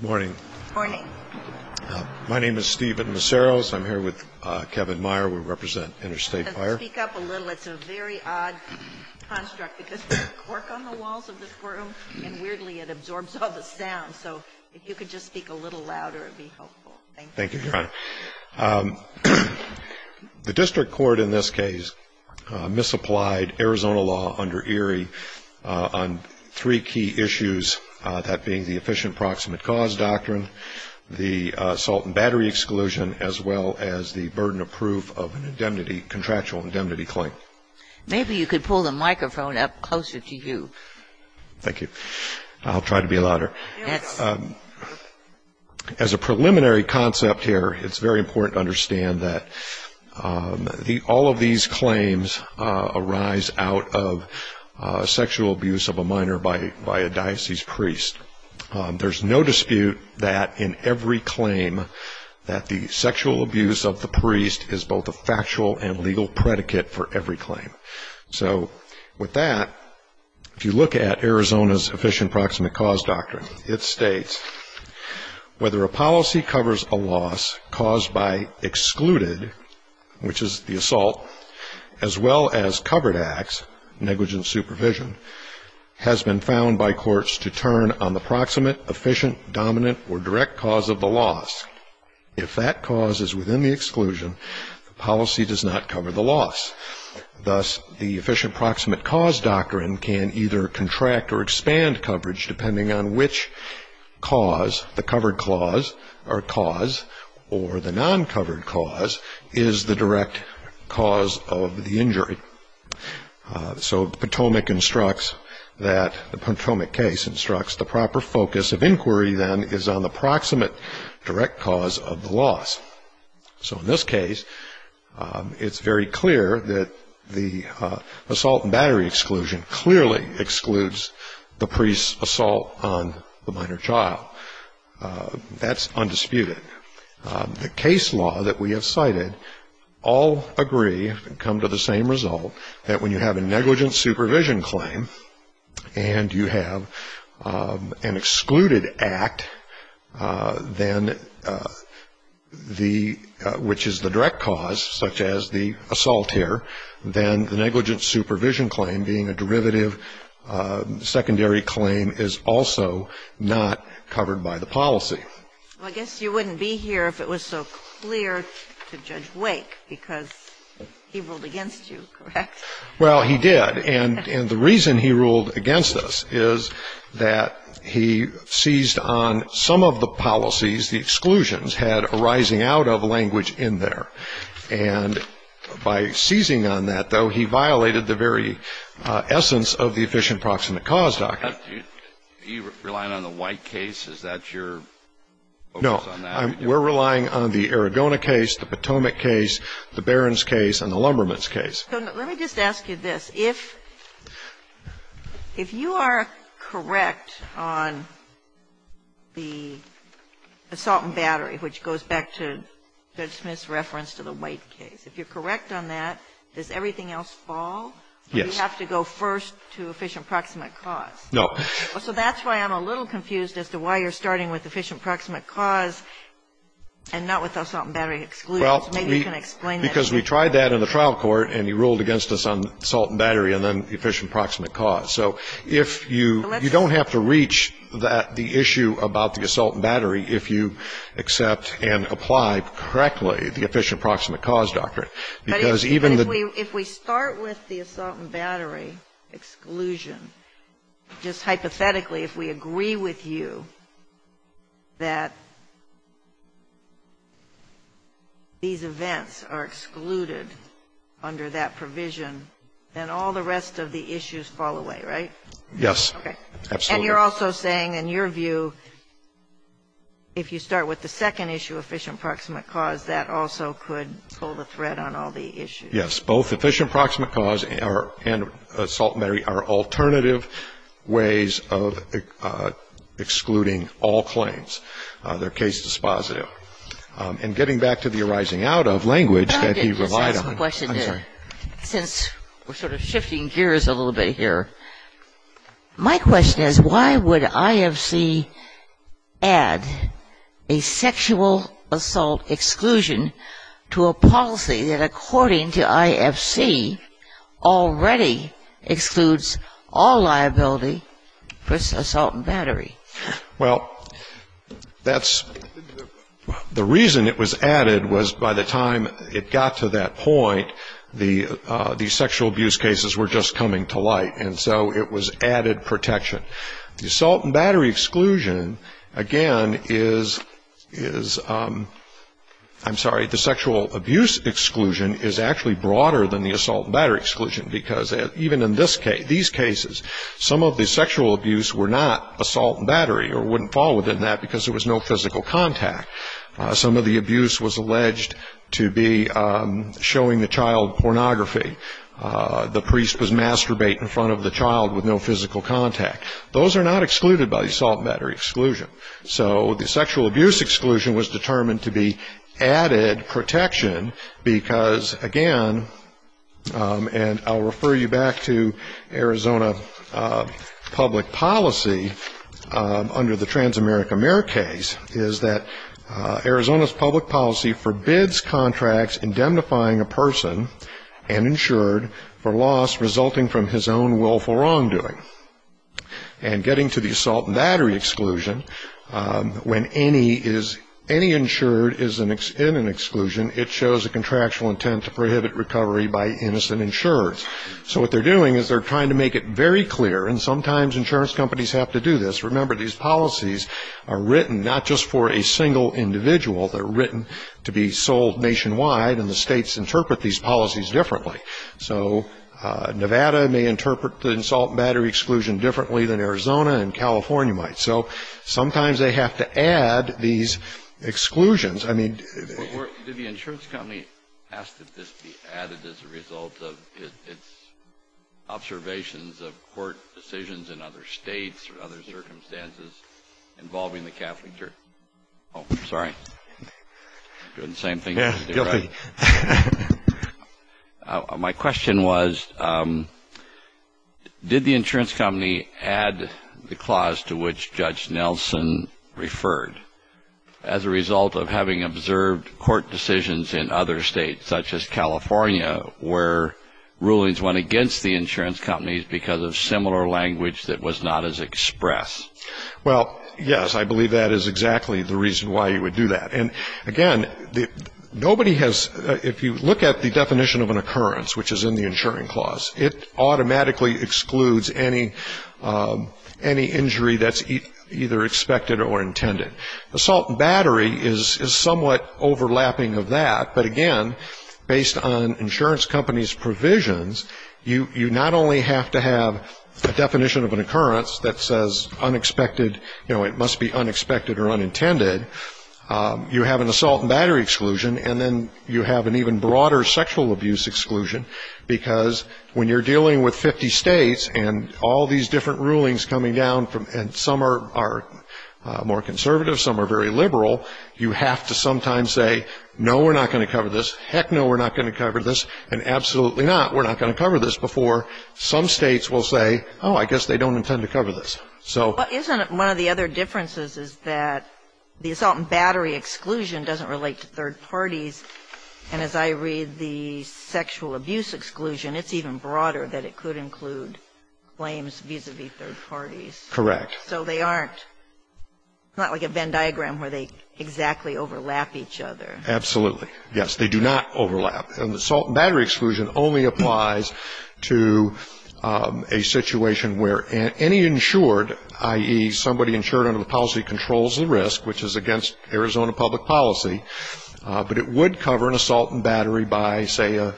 Morning. Morning. My name is Stephen Maceros. I'm here with Kevin Meyer. We represent Interstate Fire. Speak up a little. It's a very odd construct because there's cork on the walls of this room, and weirdly it absorbs all the sound. So if you could just speak a little louder, it would be helpful. Thank you. Thank you, Your Honor. The district court in this case misapplied Arizona law under Erie on three key issues, that being the efficient proximate cause doctrine, the assault and battery exclusion, as well as the burden of proof of a contractual indemnity claim. Maybe you could pull the microphone up closer to you. Thank you. I'll try to be louder. As a preliminary concept here, it's very important to understand that all of these claims arise out of sexual abuse of a minor by a diocese priest. There's no dispute that in every claim that the sexual abuse of the priest is both a factual and legal predicate for every claim. So with that, if you look at Arizona's efficient proximate cause doctrine, it states whether a policy covers a loss caused by excluded, which is the assault, as well as covered acts, negligent supervision, has been found by courts to turn on the proximate, efficient, dominant, or direct cause of the loss. If that cause is within the exclusion, the policy does not cover the loss. Thus, the efficient proximate cause doctrine can either contract or expand coverage depending on which cause, the covered cause or the non-covered cause, is the direct cause of the injury. So the Potomac case instructs the proper focus of inquiry then is on the proximate, direct cause of the loss. So in this case, it's very clear that the assault and battery exclusion clearly excludes the priest's assault on the minor child. That's undisputed. The case law that we have cited all agree and come to the same result that when you have a negligent supervision claim and you have an excluded act, then the, which is the direct cause, such as the assault here, then the negligent supervision claim being a derivative secondary claim is also not covered by the policy. Well, I guess you wouldn't be here if it was so clear to Judge Wake because he ruled against you, correct? Well, he did. And the reason he ruled against us is that he seized on some of the policies, the exclusions had a rising out of language in there. And by seizing on that, though, he violated the very essence of the efficient proximate cause document. Are you relying on the White case? Is that your focus on that? No. We're relying on the Aragona case, the Potomac case, the Barron's case, and the Lumberman's case. Let me just ask you this. If you are correct on the assault and battery, which goes back to Judge Smith's reference to the White case, if you're correct on that, does everything else fall? Yes. Do we have to go first to efficient proximate cause? No. So that's why I'm a little confused as to why you're starting with efficient proximate cause and not with assault and battery exclusion. Well, because we tried that in the trial court and he ruled against us on assault and battery and then efficient proximate cause. So if you don't have to reach the issue about the assault and battery if you accept and apply correctly the efficient proximate cause document. But if we start with the assault and battery exclusion, just hypothetically, if we agree with you that these events are excluded under that provision, then all the rest of the issues fall away, right? Yes. Okay. And you're also saying in your view if you start with the second issue, efficient proximate cause, that also could pull the thread on all the issues. Yes. Both efficient proximate cause and assault and battery are alternative ways of excluding all claims. They're case dispositive. And getting back to the arising out of language that he relied on. I'm sorry. Since we're sort of shifting gears a little bit here, my question is why would IFC add a sexual assault exclusion to a policy that according to IFC already excludes all liability for assault and battery? Well, that's the reason it was added was by the time it got to that point, the sexual abuse cases were just coming to light. And so it was added protection. The assault and battery exclusion, again, is, I'm sorry, the sexual abuse exclusion is actually broader than the assault and battery exclusion because even in these cases, some of the sexual abuse were not assault and battery or wouldn't fall within that because there was no physical contact. Some of the abuse was alleged to be showing the child pornography. The priest was masturbating in front of the child with no physical contact. Those are not excluded by the assault and battery exclusion. So the sexual abuse exclusion was determined to be added protection because, again, and I'll refer you back to Arizona public policy under the Transamerica Mayor case, is that Arizona's public policy forbids contracts indemnifying a person and insured for loss resulting from his own willful wrongdoing. And getting to the assault and battery exclusion, when any is, any insured is in an exclusion, it shows a contractual intent to prohibit recovery by innocent insurers. So what they're doing is they're trying to make it very clear, and sometimes insurance companies have to do this. Remember, these policies are written not just for a single individual. They're written to be sold nationwide, and the states interpret these policies differently. So Nevada may interpret the assault and battery exclusion differently than Arizona and California might. So sometimes they have to add these exclusions. I mean do the insurance company ask that this be added as a result of its observations of court decisions in other states or other circumstances involving the Catholic Church? Oh, sorry. Doing the same thing. Yeah, guilty. My question was, did the insurance company add the clause to which Judge Nelson referred as a result of having observed court decisions in other states, such as California, where rulings went against the insurance companies because of similar language that was not as expressed? Well, yes, I believe that is exactly the reason why you would do that. And, again, nobody has ‑‑ if you look at the definition of an occurrence, which is in the insuring clause, it automatically excludes any injury that's either expected or intended. Assault and battery is somewhat overlapping of that, but, again, based on insurance companies' provisions, you not only have to have a definition of an occurrence that says unexpected, you know, it must be unexpected or unintended, you have an assault and battery exclusion, and then you have an even broader sexual abuse exclusion, because when you're dealing with 50 states and all these different rulings coming down, and some are more conservative, some are very liberal, you have to sometimes say, no, we're not going to cover this, heck no, we're not going to cover this, and absolutely not, we're not going to cover this before some states will say, oh, I guess they don't intend to cover this. Isn't it one of the other differences is that the assault and battery exclusion doesn't relate to third parties, and as I read the sexual abuse exclusion, it's even broader that it could include claims vis‑a‑vis third parties. Correct. So they aren't ‑‑ it's not like a Venn diagram where they exactly overlap each other. Absolutely, yes, they do not overlap, and the assault and battery exclusion only applies to a situation where any insured, i.e., somebody insured under the policy controls the risk, which is against Arizona public policy, but it would cover an assault and battery by, say, a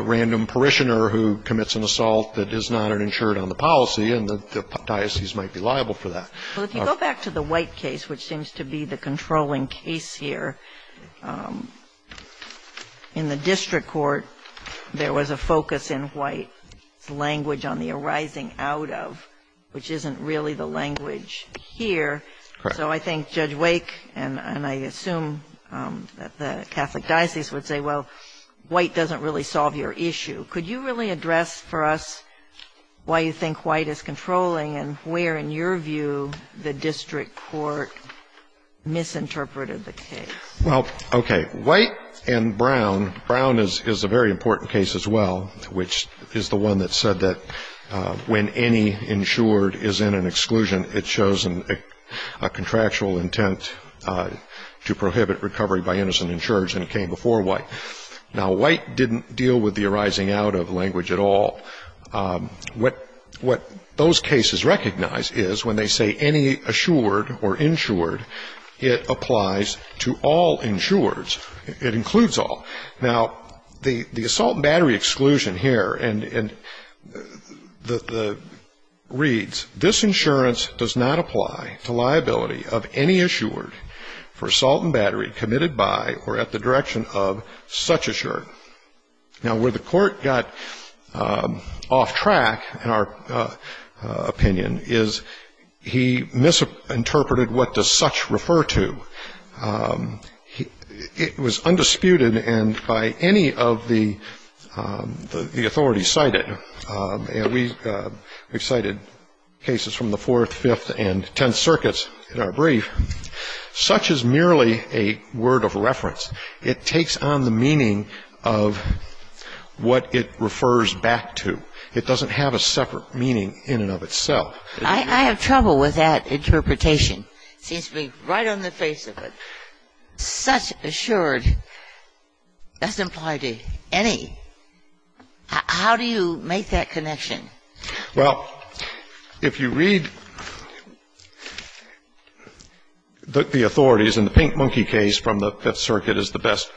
random parishioner who commits an assault that is not an insured under the policy, and the diocese might be liable for that. Well, if you go back to the White case, which seems to be the controlling case here, in the district court there was a focus in White's language on the arising out of, which isn't really the language here. Correct. So I think Judge Wake and I assume that the Catholic diocese would say, well, White doesn't really solve your issue. Could you really address for us why you think White is controlling and where, in your view, the district court misinterpreted the case? Well, okay. White and Brown, Brown is a very important case as well, which is the one that said that when any insured is in an exclusion, it shows a contractual intent to prohibit recovery by innocent insurers, and it came before White. Now, White didn't deal with the arising out of language at all. What those cases recognize is when they say any assured or insured, it applies to all insureds. It includes all. Now, the assault and battery exclusion here reads, this insurance does not apply to liability of any insured. Now, where the Court got off track, in our opinion, is he misinterpreted what does such refer to. It was undisputed and by any of the authorities cited, and we've cited cases from the Fourth, Fifth, and Tenth Circuits in our brief, such is merely a word of reference. It takes on the meaning of what it refers back to. It doesn't have a separate meaning in and of itself. I have trouble with that interpretation. It seems to be right on the face of it. Such assured doesn't apply to any. How do you make that connection? Well, if you read the authorities in the Pink Monkey case from the Fifth Circuit is the best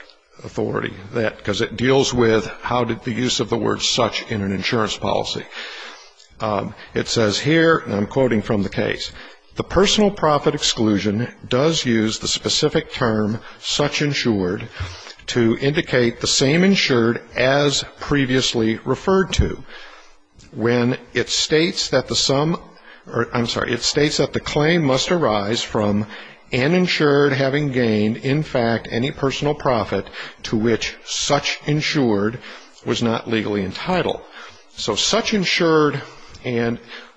authority, because it deals with how did the use of the word such in an insurance policy. It says here, and I'm quoting from the case, the personal profit exclusion does use the specific term such insured to indicate the same insured as previously referred to. When it states that the claim must arise from an insured having gained, in fact, any personal profit to which such insured was not legally entitled. So such insured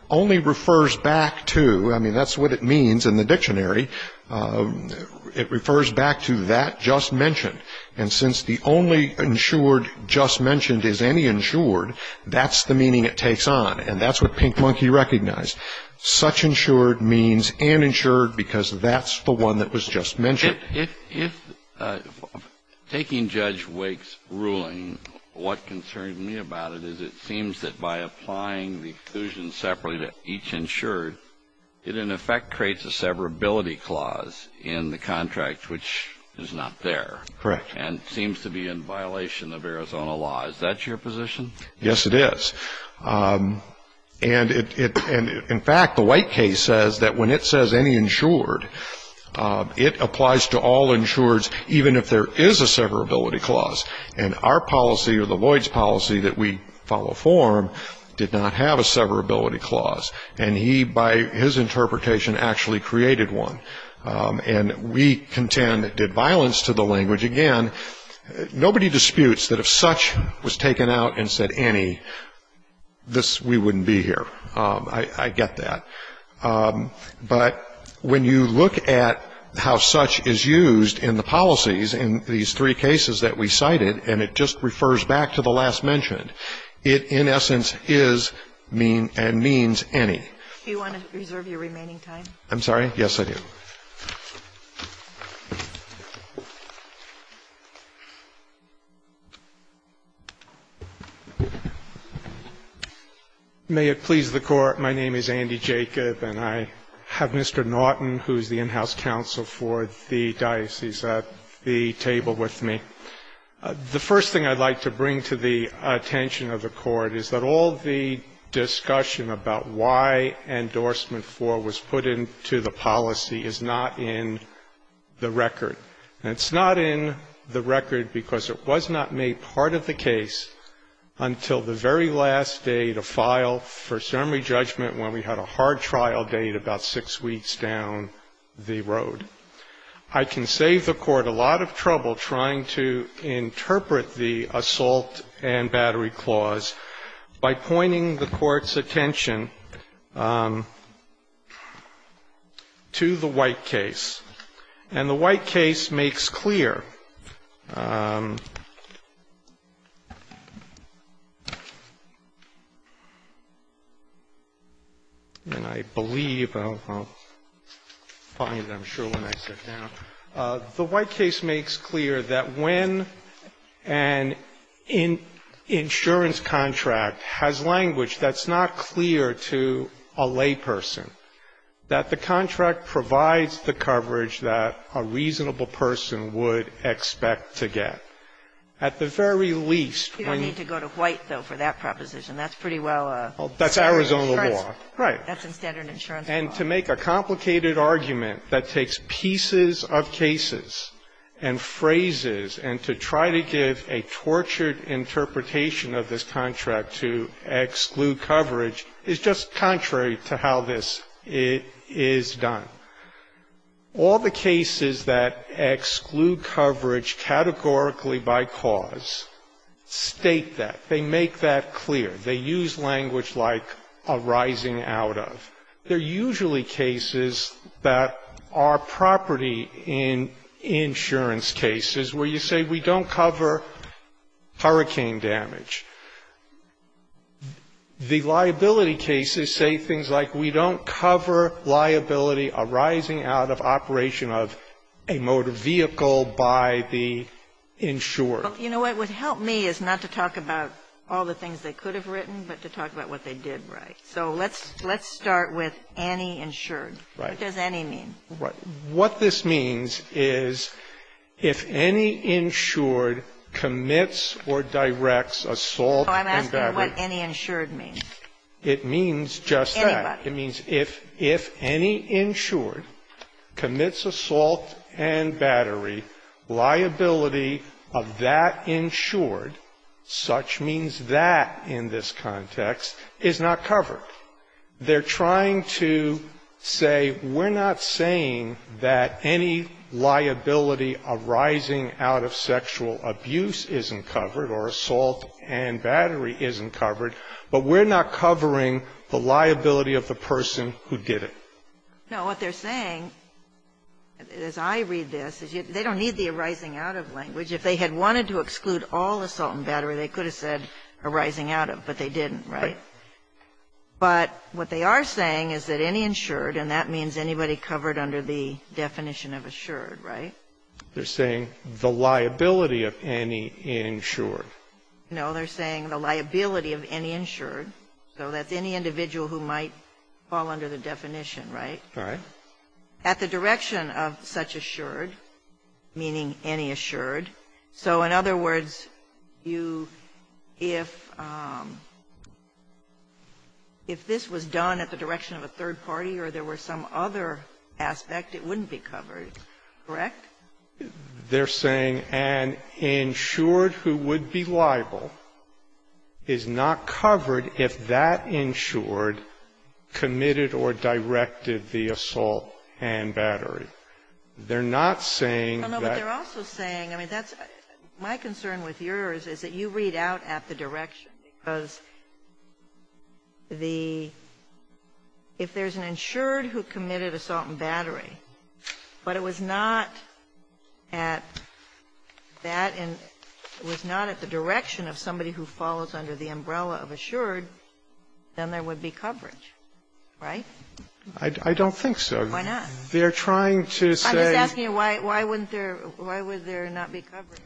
only refers back to, I mean, that's what it means in the dictionary, it refers back to that just mentioned. And since the only insured just mentioned is any insured, that's the meaning it takes on, and that's what Pink Monkey recognized. Such insured means an insured, because that's the one that was just mentioned. If taking Judge Wake's ruling, what concerns me about it is it seems that by applying the exclusion separately to each insured, it in effect creates a severability clause in the contract, which is not there. And seems to be in violation of Arizona law. Is that your position? Yes, it is. And in fact, the Wake case says that when it says any insured, it applies to all insureds, even if there is a severability clause. And our policy or the Lloyds policy that we follow form did not have a severability clause. And nobody disputes that if such was taken out and said any, this, we wouldn't be here. I get that. But when you look at how such is used in the policies in these three cases that we cited, and it just refers back to the last mentioned, it in essence is and means any. Do you want to reserve your remaining time? I'm sorry? Yes, I do. May it please the Court, my name is Andy Jacob, and I have Mr. Naughton, who is the in-house counsel for the diocese, at the table with me. The first thing I'd like to bring to the attention of the Court is that all the discussion about why endorsement 4 was put into the policy is not in the record. And it's not in the record because it was not made part of the case until the very last day to file for summary judgment when we had a hard trial date about six weeks down the road. I can save the Court a lot of trouble trying to interpret the assault and battery clause by pointing the Court's attention to the White case. And the White case makes clear, and I believe I'll find it, I'm sure, when I sit down. The White case makes clear that when an insurance contract has language that's not clear to a layperson, that the contract provides the coverage that a reasonable person would expect to get. At the very least, when you need to go to White, though, for that proposition, that's pretty well a standard insurance clause. That's Arizona law, right. That's a standard insurance clause. And to make a complicated argument that takes pieces of cases and phrases and to try to give a tortured interpretation of this contract to exclude coverage is just contrary to how this is done. All the cases that exclude coverage categorically by cause state that. They make that clear. They use language like arising out of. There are usually cases that are property in insurance cases where you say we don't cover hurricane damage. The liability cases say things like we don't cover liability arising out of operation of a motor vehicle by the insurer. Well, you know what would help me is not to talk about all the things they could have written, but to talk about what they did right. So let's start with any insured. Right. What does any mean? What this means is if any insured commits or directs assault and battery. I'm asking what any insured means. It means just that. Anybody. It means if any insured commits assault and battery, liability of that insured, such means that in this context, is not covered. They're trying to say we're not saying that any liability arising out of sexual abuse isn't covered or assault and battery isn't covered, but we're not covering the liability of the person who did it. No. What they're saying, as I read this, is they don't need the arising out of language. If they had wanted to exclude all assault and battery, they could have said arising out of, but they didn't, right? Right. But what they are saying is that any insured, and that means anybody covered under the definition of assured, right? They're saying the liability of any insured. No. They're saying the liability of any insured. So that's any individual who might fall under the definition, right? Right. At the direction of such assured, meaning any assured. So in other words, you – if this was done at the direction of a third party or there were some other aspect, it wouldn't be covered, correct? They're saying an insured who would be liable is not covered if that insured committed or directed the assault and battery. They're not saying that the assault and battery is not covered if that insured at that and was not at the direction of somebody who falls under the umbrella of assured, then there would be coverage, right? I don't think so. Why not? They're trying to say – I'm just asking you why wouldn't there – why would there not be coverage?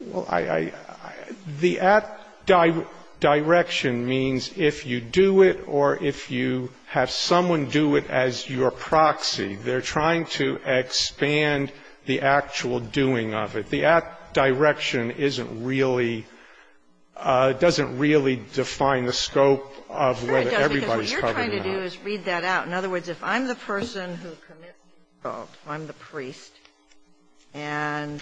Well, I – the at direction means if you do it or if you have someone do it as your proxy, they're trying to expand the actual doing of it. The at direction isn't really – doesn't really define the scope of whether everybody's covered or not. In other words, if I'm the person who commits the assault, I'm the priest, and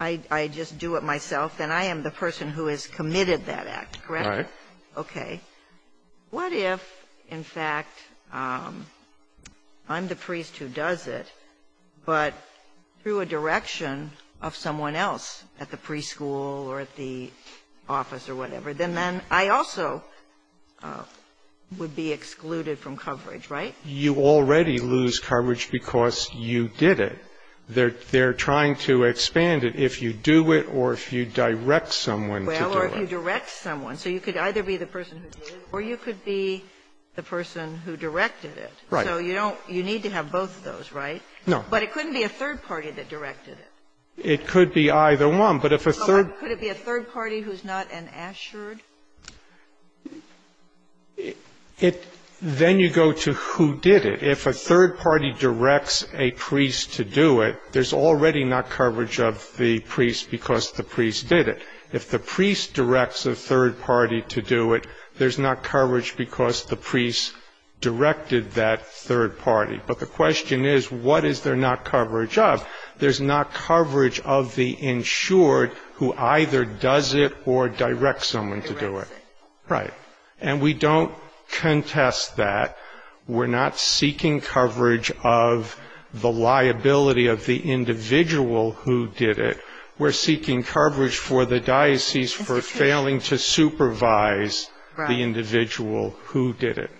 I just do it myself, then I am the person who has committed that act, correct? Right. Okay. What if, in fact, I'm the priest who does it, but through a direction of someone else at the preschool or at the office or whatever, then then I also would be excluded from coverage, right? You already lose coverage because you did it. They're trying to expand it if you do it or if you direct someone to do it. Well, or if you direct someone. So you could either be the person who did it or you could be the person who directed it. Right. So you don't – you need to have both of those, right? No. But it couldn't be a third party that directed it. It could be either one. But if a third – Could it be a third party who's not an assured? It – then you go to who did it. If a third party directs a priest to do it, there's already not coverage of the priest because the priest did it. If the priest directs a third party to do it, there's not coverage because the priest directed that third party. But the question is, what is there not coverage of? There's not coverage of the insured who either does it or directs someone to do it. Right. And we don't contest that. We're not seeking coverage of the liability of the individual who did it. We're seeking coverage for the diocese for failing to supervise the individual who did it.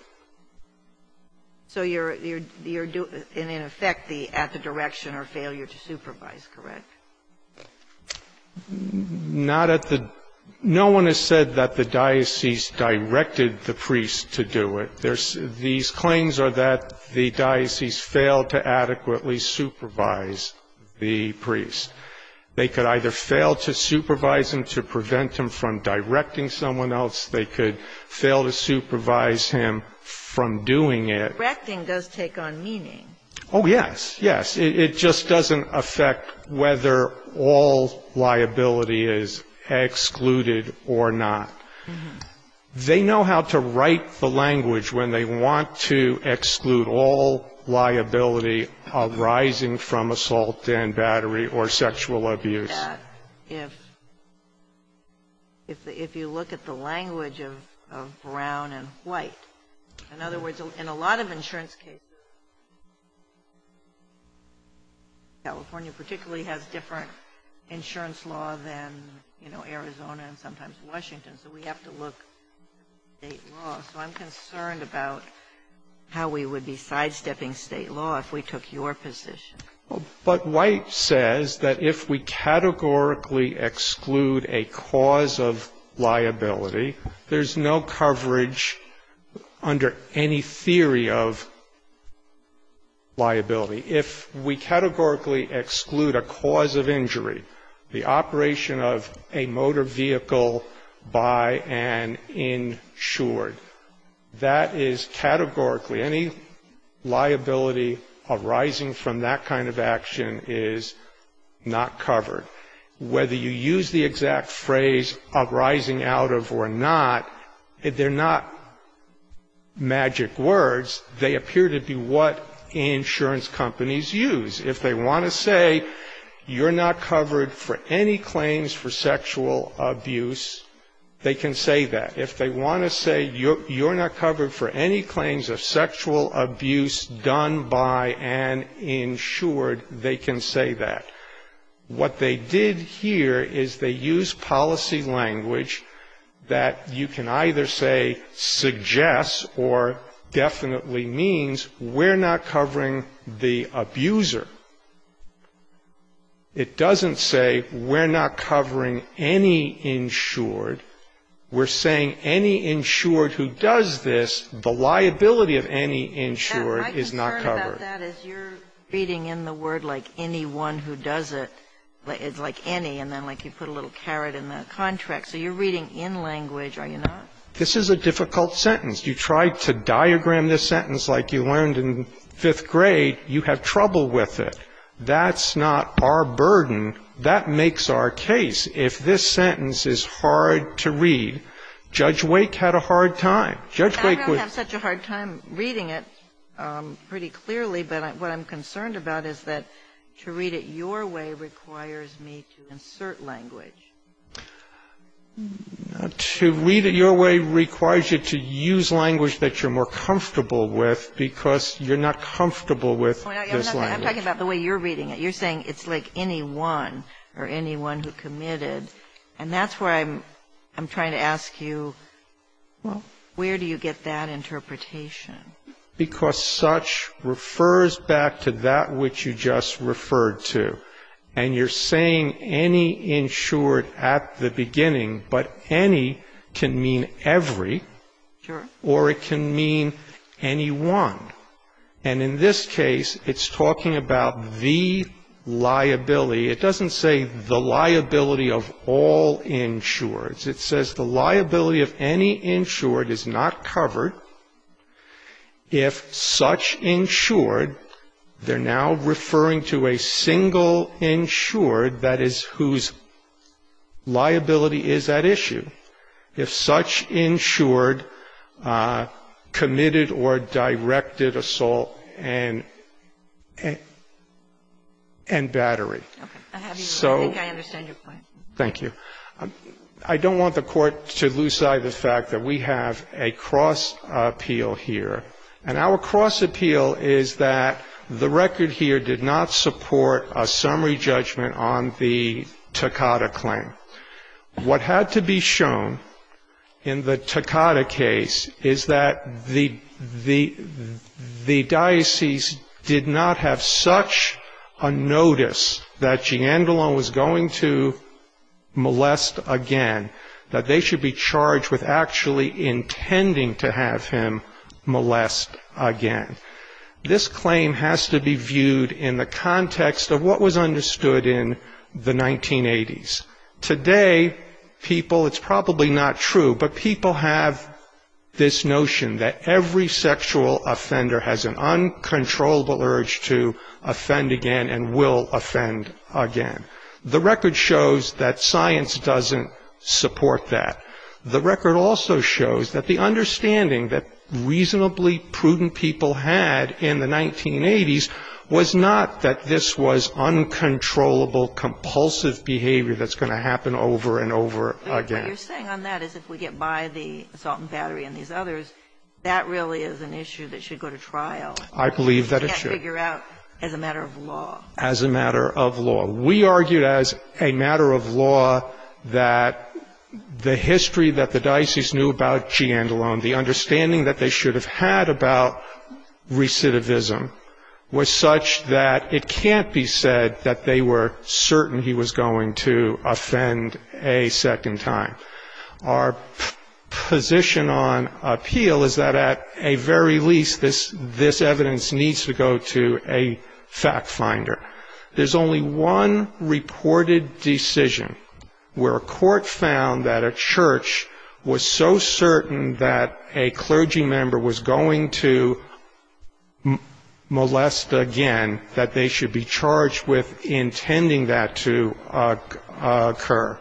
So you're – you're doing – and in effect the – at the direction or failure to supervise, correct? Not at the – no one has said that the diocese directed the priest to do it. There's – these claims are that the diocese failed to adequately supervise the priest. They could either fail to supervise him to prevent him from directing someone else. They could fail to supervise him from doing it. Directing does take on meaning. Oh, yes, yes. It just doesn't affect whether all liability is excluded or not. They know how to write the language when they want to exclude all liability arising from assault and battery or sexual abuse. If – if you look at the language of brown and white. In other words, in a lot of insurance cases, California particularly has different insurance law than, you know, Arizona and sometimes Washington. So we have to look at state law. So I'm concerned about how we would be sidestepping state law if we took your position. But White says that if we categorically exclude a cause of liability, there's no coverage under any theory of liability. If we categorically exclude a cause of injury, the operation of a motor vehicle by an insured, that is categorically any liability arising from that kind of action is not covered. Whether you use the exact phrase arising out of or not, they're not magic words. They appear to be what insurance companies use. If they want to say you're not covered for any claims for sexual abuse, they can say that. If they want to say you're not covered for any claims of sexual abuse done by an insured, they can say that. What they did here is they used policy language that you can either say suggests or definitely means we're not covering the abuser. It doesn't say we're not covering any insured. We're saying any insured who does this, the liability of any insured is not covered. Ginsburg. My concern about that is you're reading in the word like anyone who does it, like any, and then like you put a little carrot in the contract. So you're reading in language, are you not? This is a difficult sentence. You tried to diagram this sentence like you learned in fifth grade. You have trouble with it. That's not our burden. That makes our case. If this sentence is hard to read, Judge Wake had a hard time. Judge Wake was ---- I don't have such a hard time reading it pretty clearly, but what I'm concerned about is that to read it your way requires me to insert language. To read it your way requires you to use language that you're more comfortable with because you're not comfortable with this language. I'm talking about the way you're reading it. You're saying it's like anyone or anyone who committed. And that's why I'm trying to ask you where do you get that interpretation? Because such refers back to that which you just referred to. And you're saying any insured at the beginning, but any can mean every. Or it can mean anyone. And in this case, it's talking about the liability. It doesn't say the liability of all insureds. It says the liability of any insured is not covered. If such insured, they're now referring to a single insured, that is, whose liability is at issue, if such insured committed or directed assault and battery. So ---- I think I understand your point. Thank you. I don't want the Court to lose sight of the fact that we have a cross appeal here. And our cross appeal is that the record here did not support a summary judgment on the Takata claim. What had to be shown in the Takata case is that the diocese did not have such a notice that Giandolo was going to molest again. That they should be charged with actually intending to have him molest again. This claim has to be viewed in the context of what was understood in the 1980s. Today, people, it's probably not true, but people have this notion that every sexual offender has an uncontrollable urge to offend again and will offend again. The record shows that science doesn't support that. The record also shows that the understanding that reasonably prudent people had in the 1980s was not that this was uncontrollable, compulsive behavior that's going to happen over and over again. What you're saying on that is if we get by the assault and battery and these others, that really is an issue that should go to trial. I believe that it should. You can't figure out as a matter of law. As a matter of law. We argued as a matter of law that the history that the diocese knew about Giandolo, the understanding that they should have had about recidivism, was such that it can't be said that they were certain he was going to offend a second time. Our position on appeal is that at a very least this evidence needs to go to a fact finder. There's only one reported decision where a court found that a church was so certain that a clergy member was going to molest again that they should be charged with intending that to occur.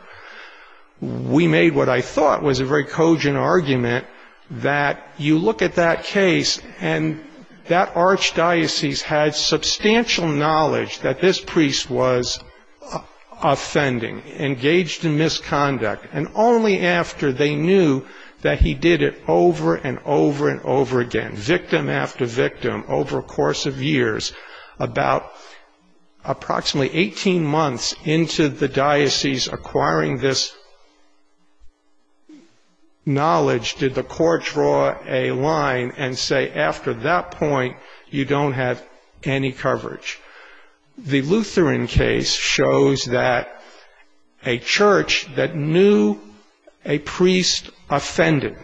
We made what I thought was a very cogent argument that you look at that case and that archdiocese had substantial knowledge that this priest was offending, engaged in misconduct, and only after they knew that he did it over and over and over again, victim after victim over a course of years, about approximately 18 months into the diocese acquiring this knowledge, did the court draw a line and say after that point you don't have any coverage. The Lutheran case shows that a church that knew a priest offended,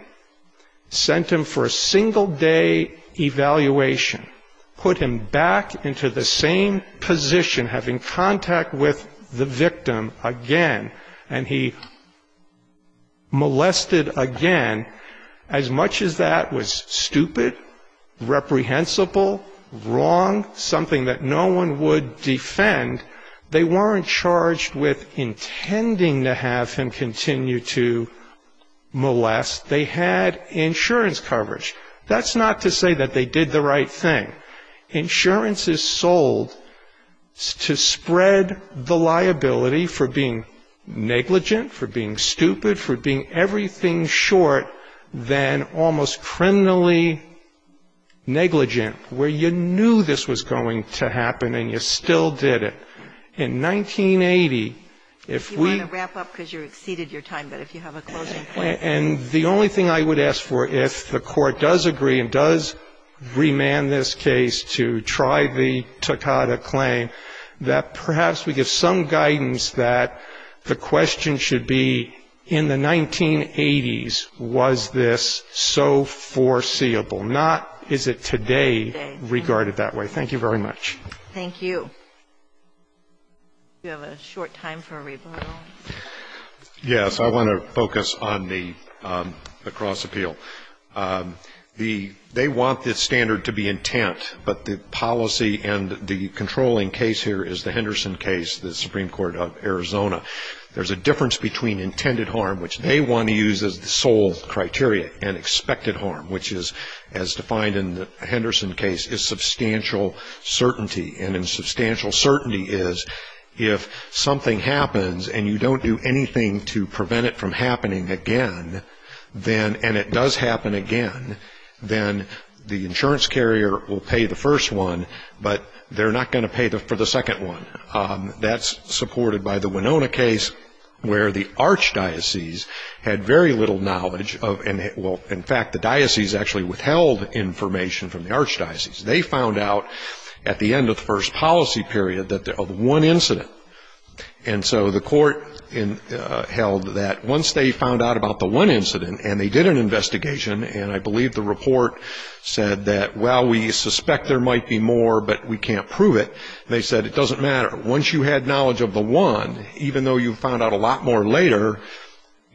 sent him for a single day evaluation, put him back into the same position, having contact with the victim again, and he molested again, as much as that was stupid, reprehensible, wrong, something that no one would defend, they weren't charged with intending to have him continue to molest. They had insurance coverage. That's not to say that they did the right thing. Insurance is sold to spread the liability for being negligent, for being stupid, for being everything short than almost criminally negligent, where you knew this was going to happen and you still did it. In 1980, if we... You want to wrap up because you exceeded your time, but if you have a closing point... And the only thing I would ask for, if the court does agree and does remand this case to try the Toccata claim, that perhaps we give some guidance that the question should be in the 1980s was this so foreseeable, not is it today regarded that way. Thank you very much. Thank you. Do we have a short time for a rebuttal? Yes. I want to focus on the cross appeal. They want the standard to be intent, but the policy and the controlling case here is the Henderson case, the Supreme Court of Arizona. There's a difference between intended harm, which they want to use as the sole criteria, and expected harm, which is, as defined in the Henderson case, is substantial certainty. And substantial certainty is if something happens and you don't do anything to prevent it from happening again, and it does happen again, then the insurance carrier will pay the first one, but they're not going to pay for the second one. That's supported by the Winona case, where the archdiocese had very little knowledge of, well, in fact, the diocese actually withheld information from the archdiocese. They found out at the end of the first policy period of one incident. And so the court held that once they found out about the one incident, and they did an investigation, and I believe the report said that, well, we suspect there might be more, but we can't prove it. They said it doesn't matter. Once you had knowledge of the one, even though you found out a lot more later,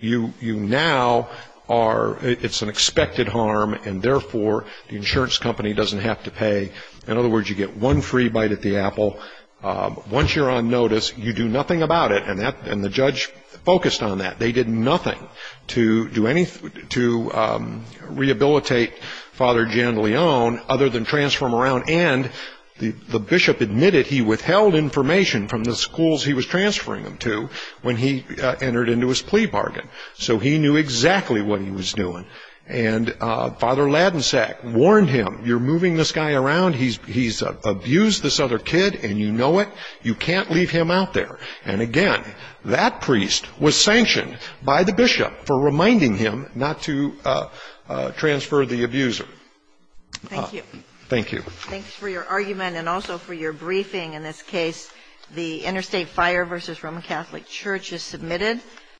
you now are, it's an expected harm, and therefore the insurance company doesn't have to pay. In other words, you get one free bite at the apple. Once you're on notice, you do nothing about it, and the judge focused on that. They did nothing to rehabilitate Father Jan Leon other than transform around. And the bishop admitted he withheld information from the schools he was transferring them to when he entered into his plea bargain. So he knew exactly what he was doing. And Father Ladensack warned him, you're moving this guy around. He's abused this other kid, and you know it. You can't leave him out there. And, again, that priest was sanctioned by the bishop for reminding him not to transfer the abuser. Thank you. Thank you. Thanks for your argument and also for your briefing. In this case, the Interstate Fire v. Roman Catholic Church is submitted.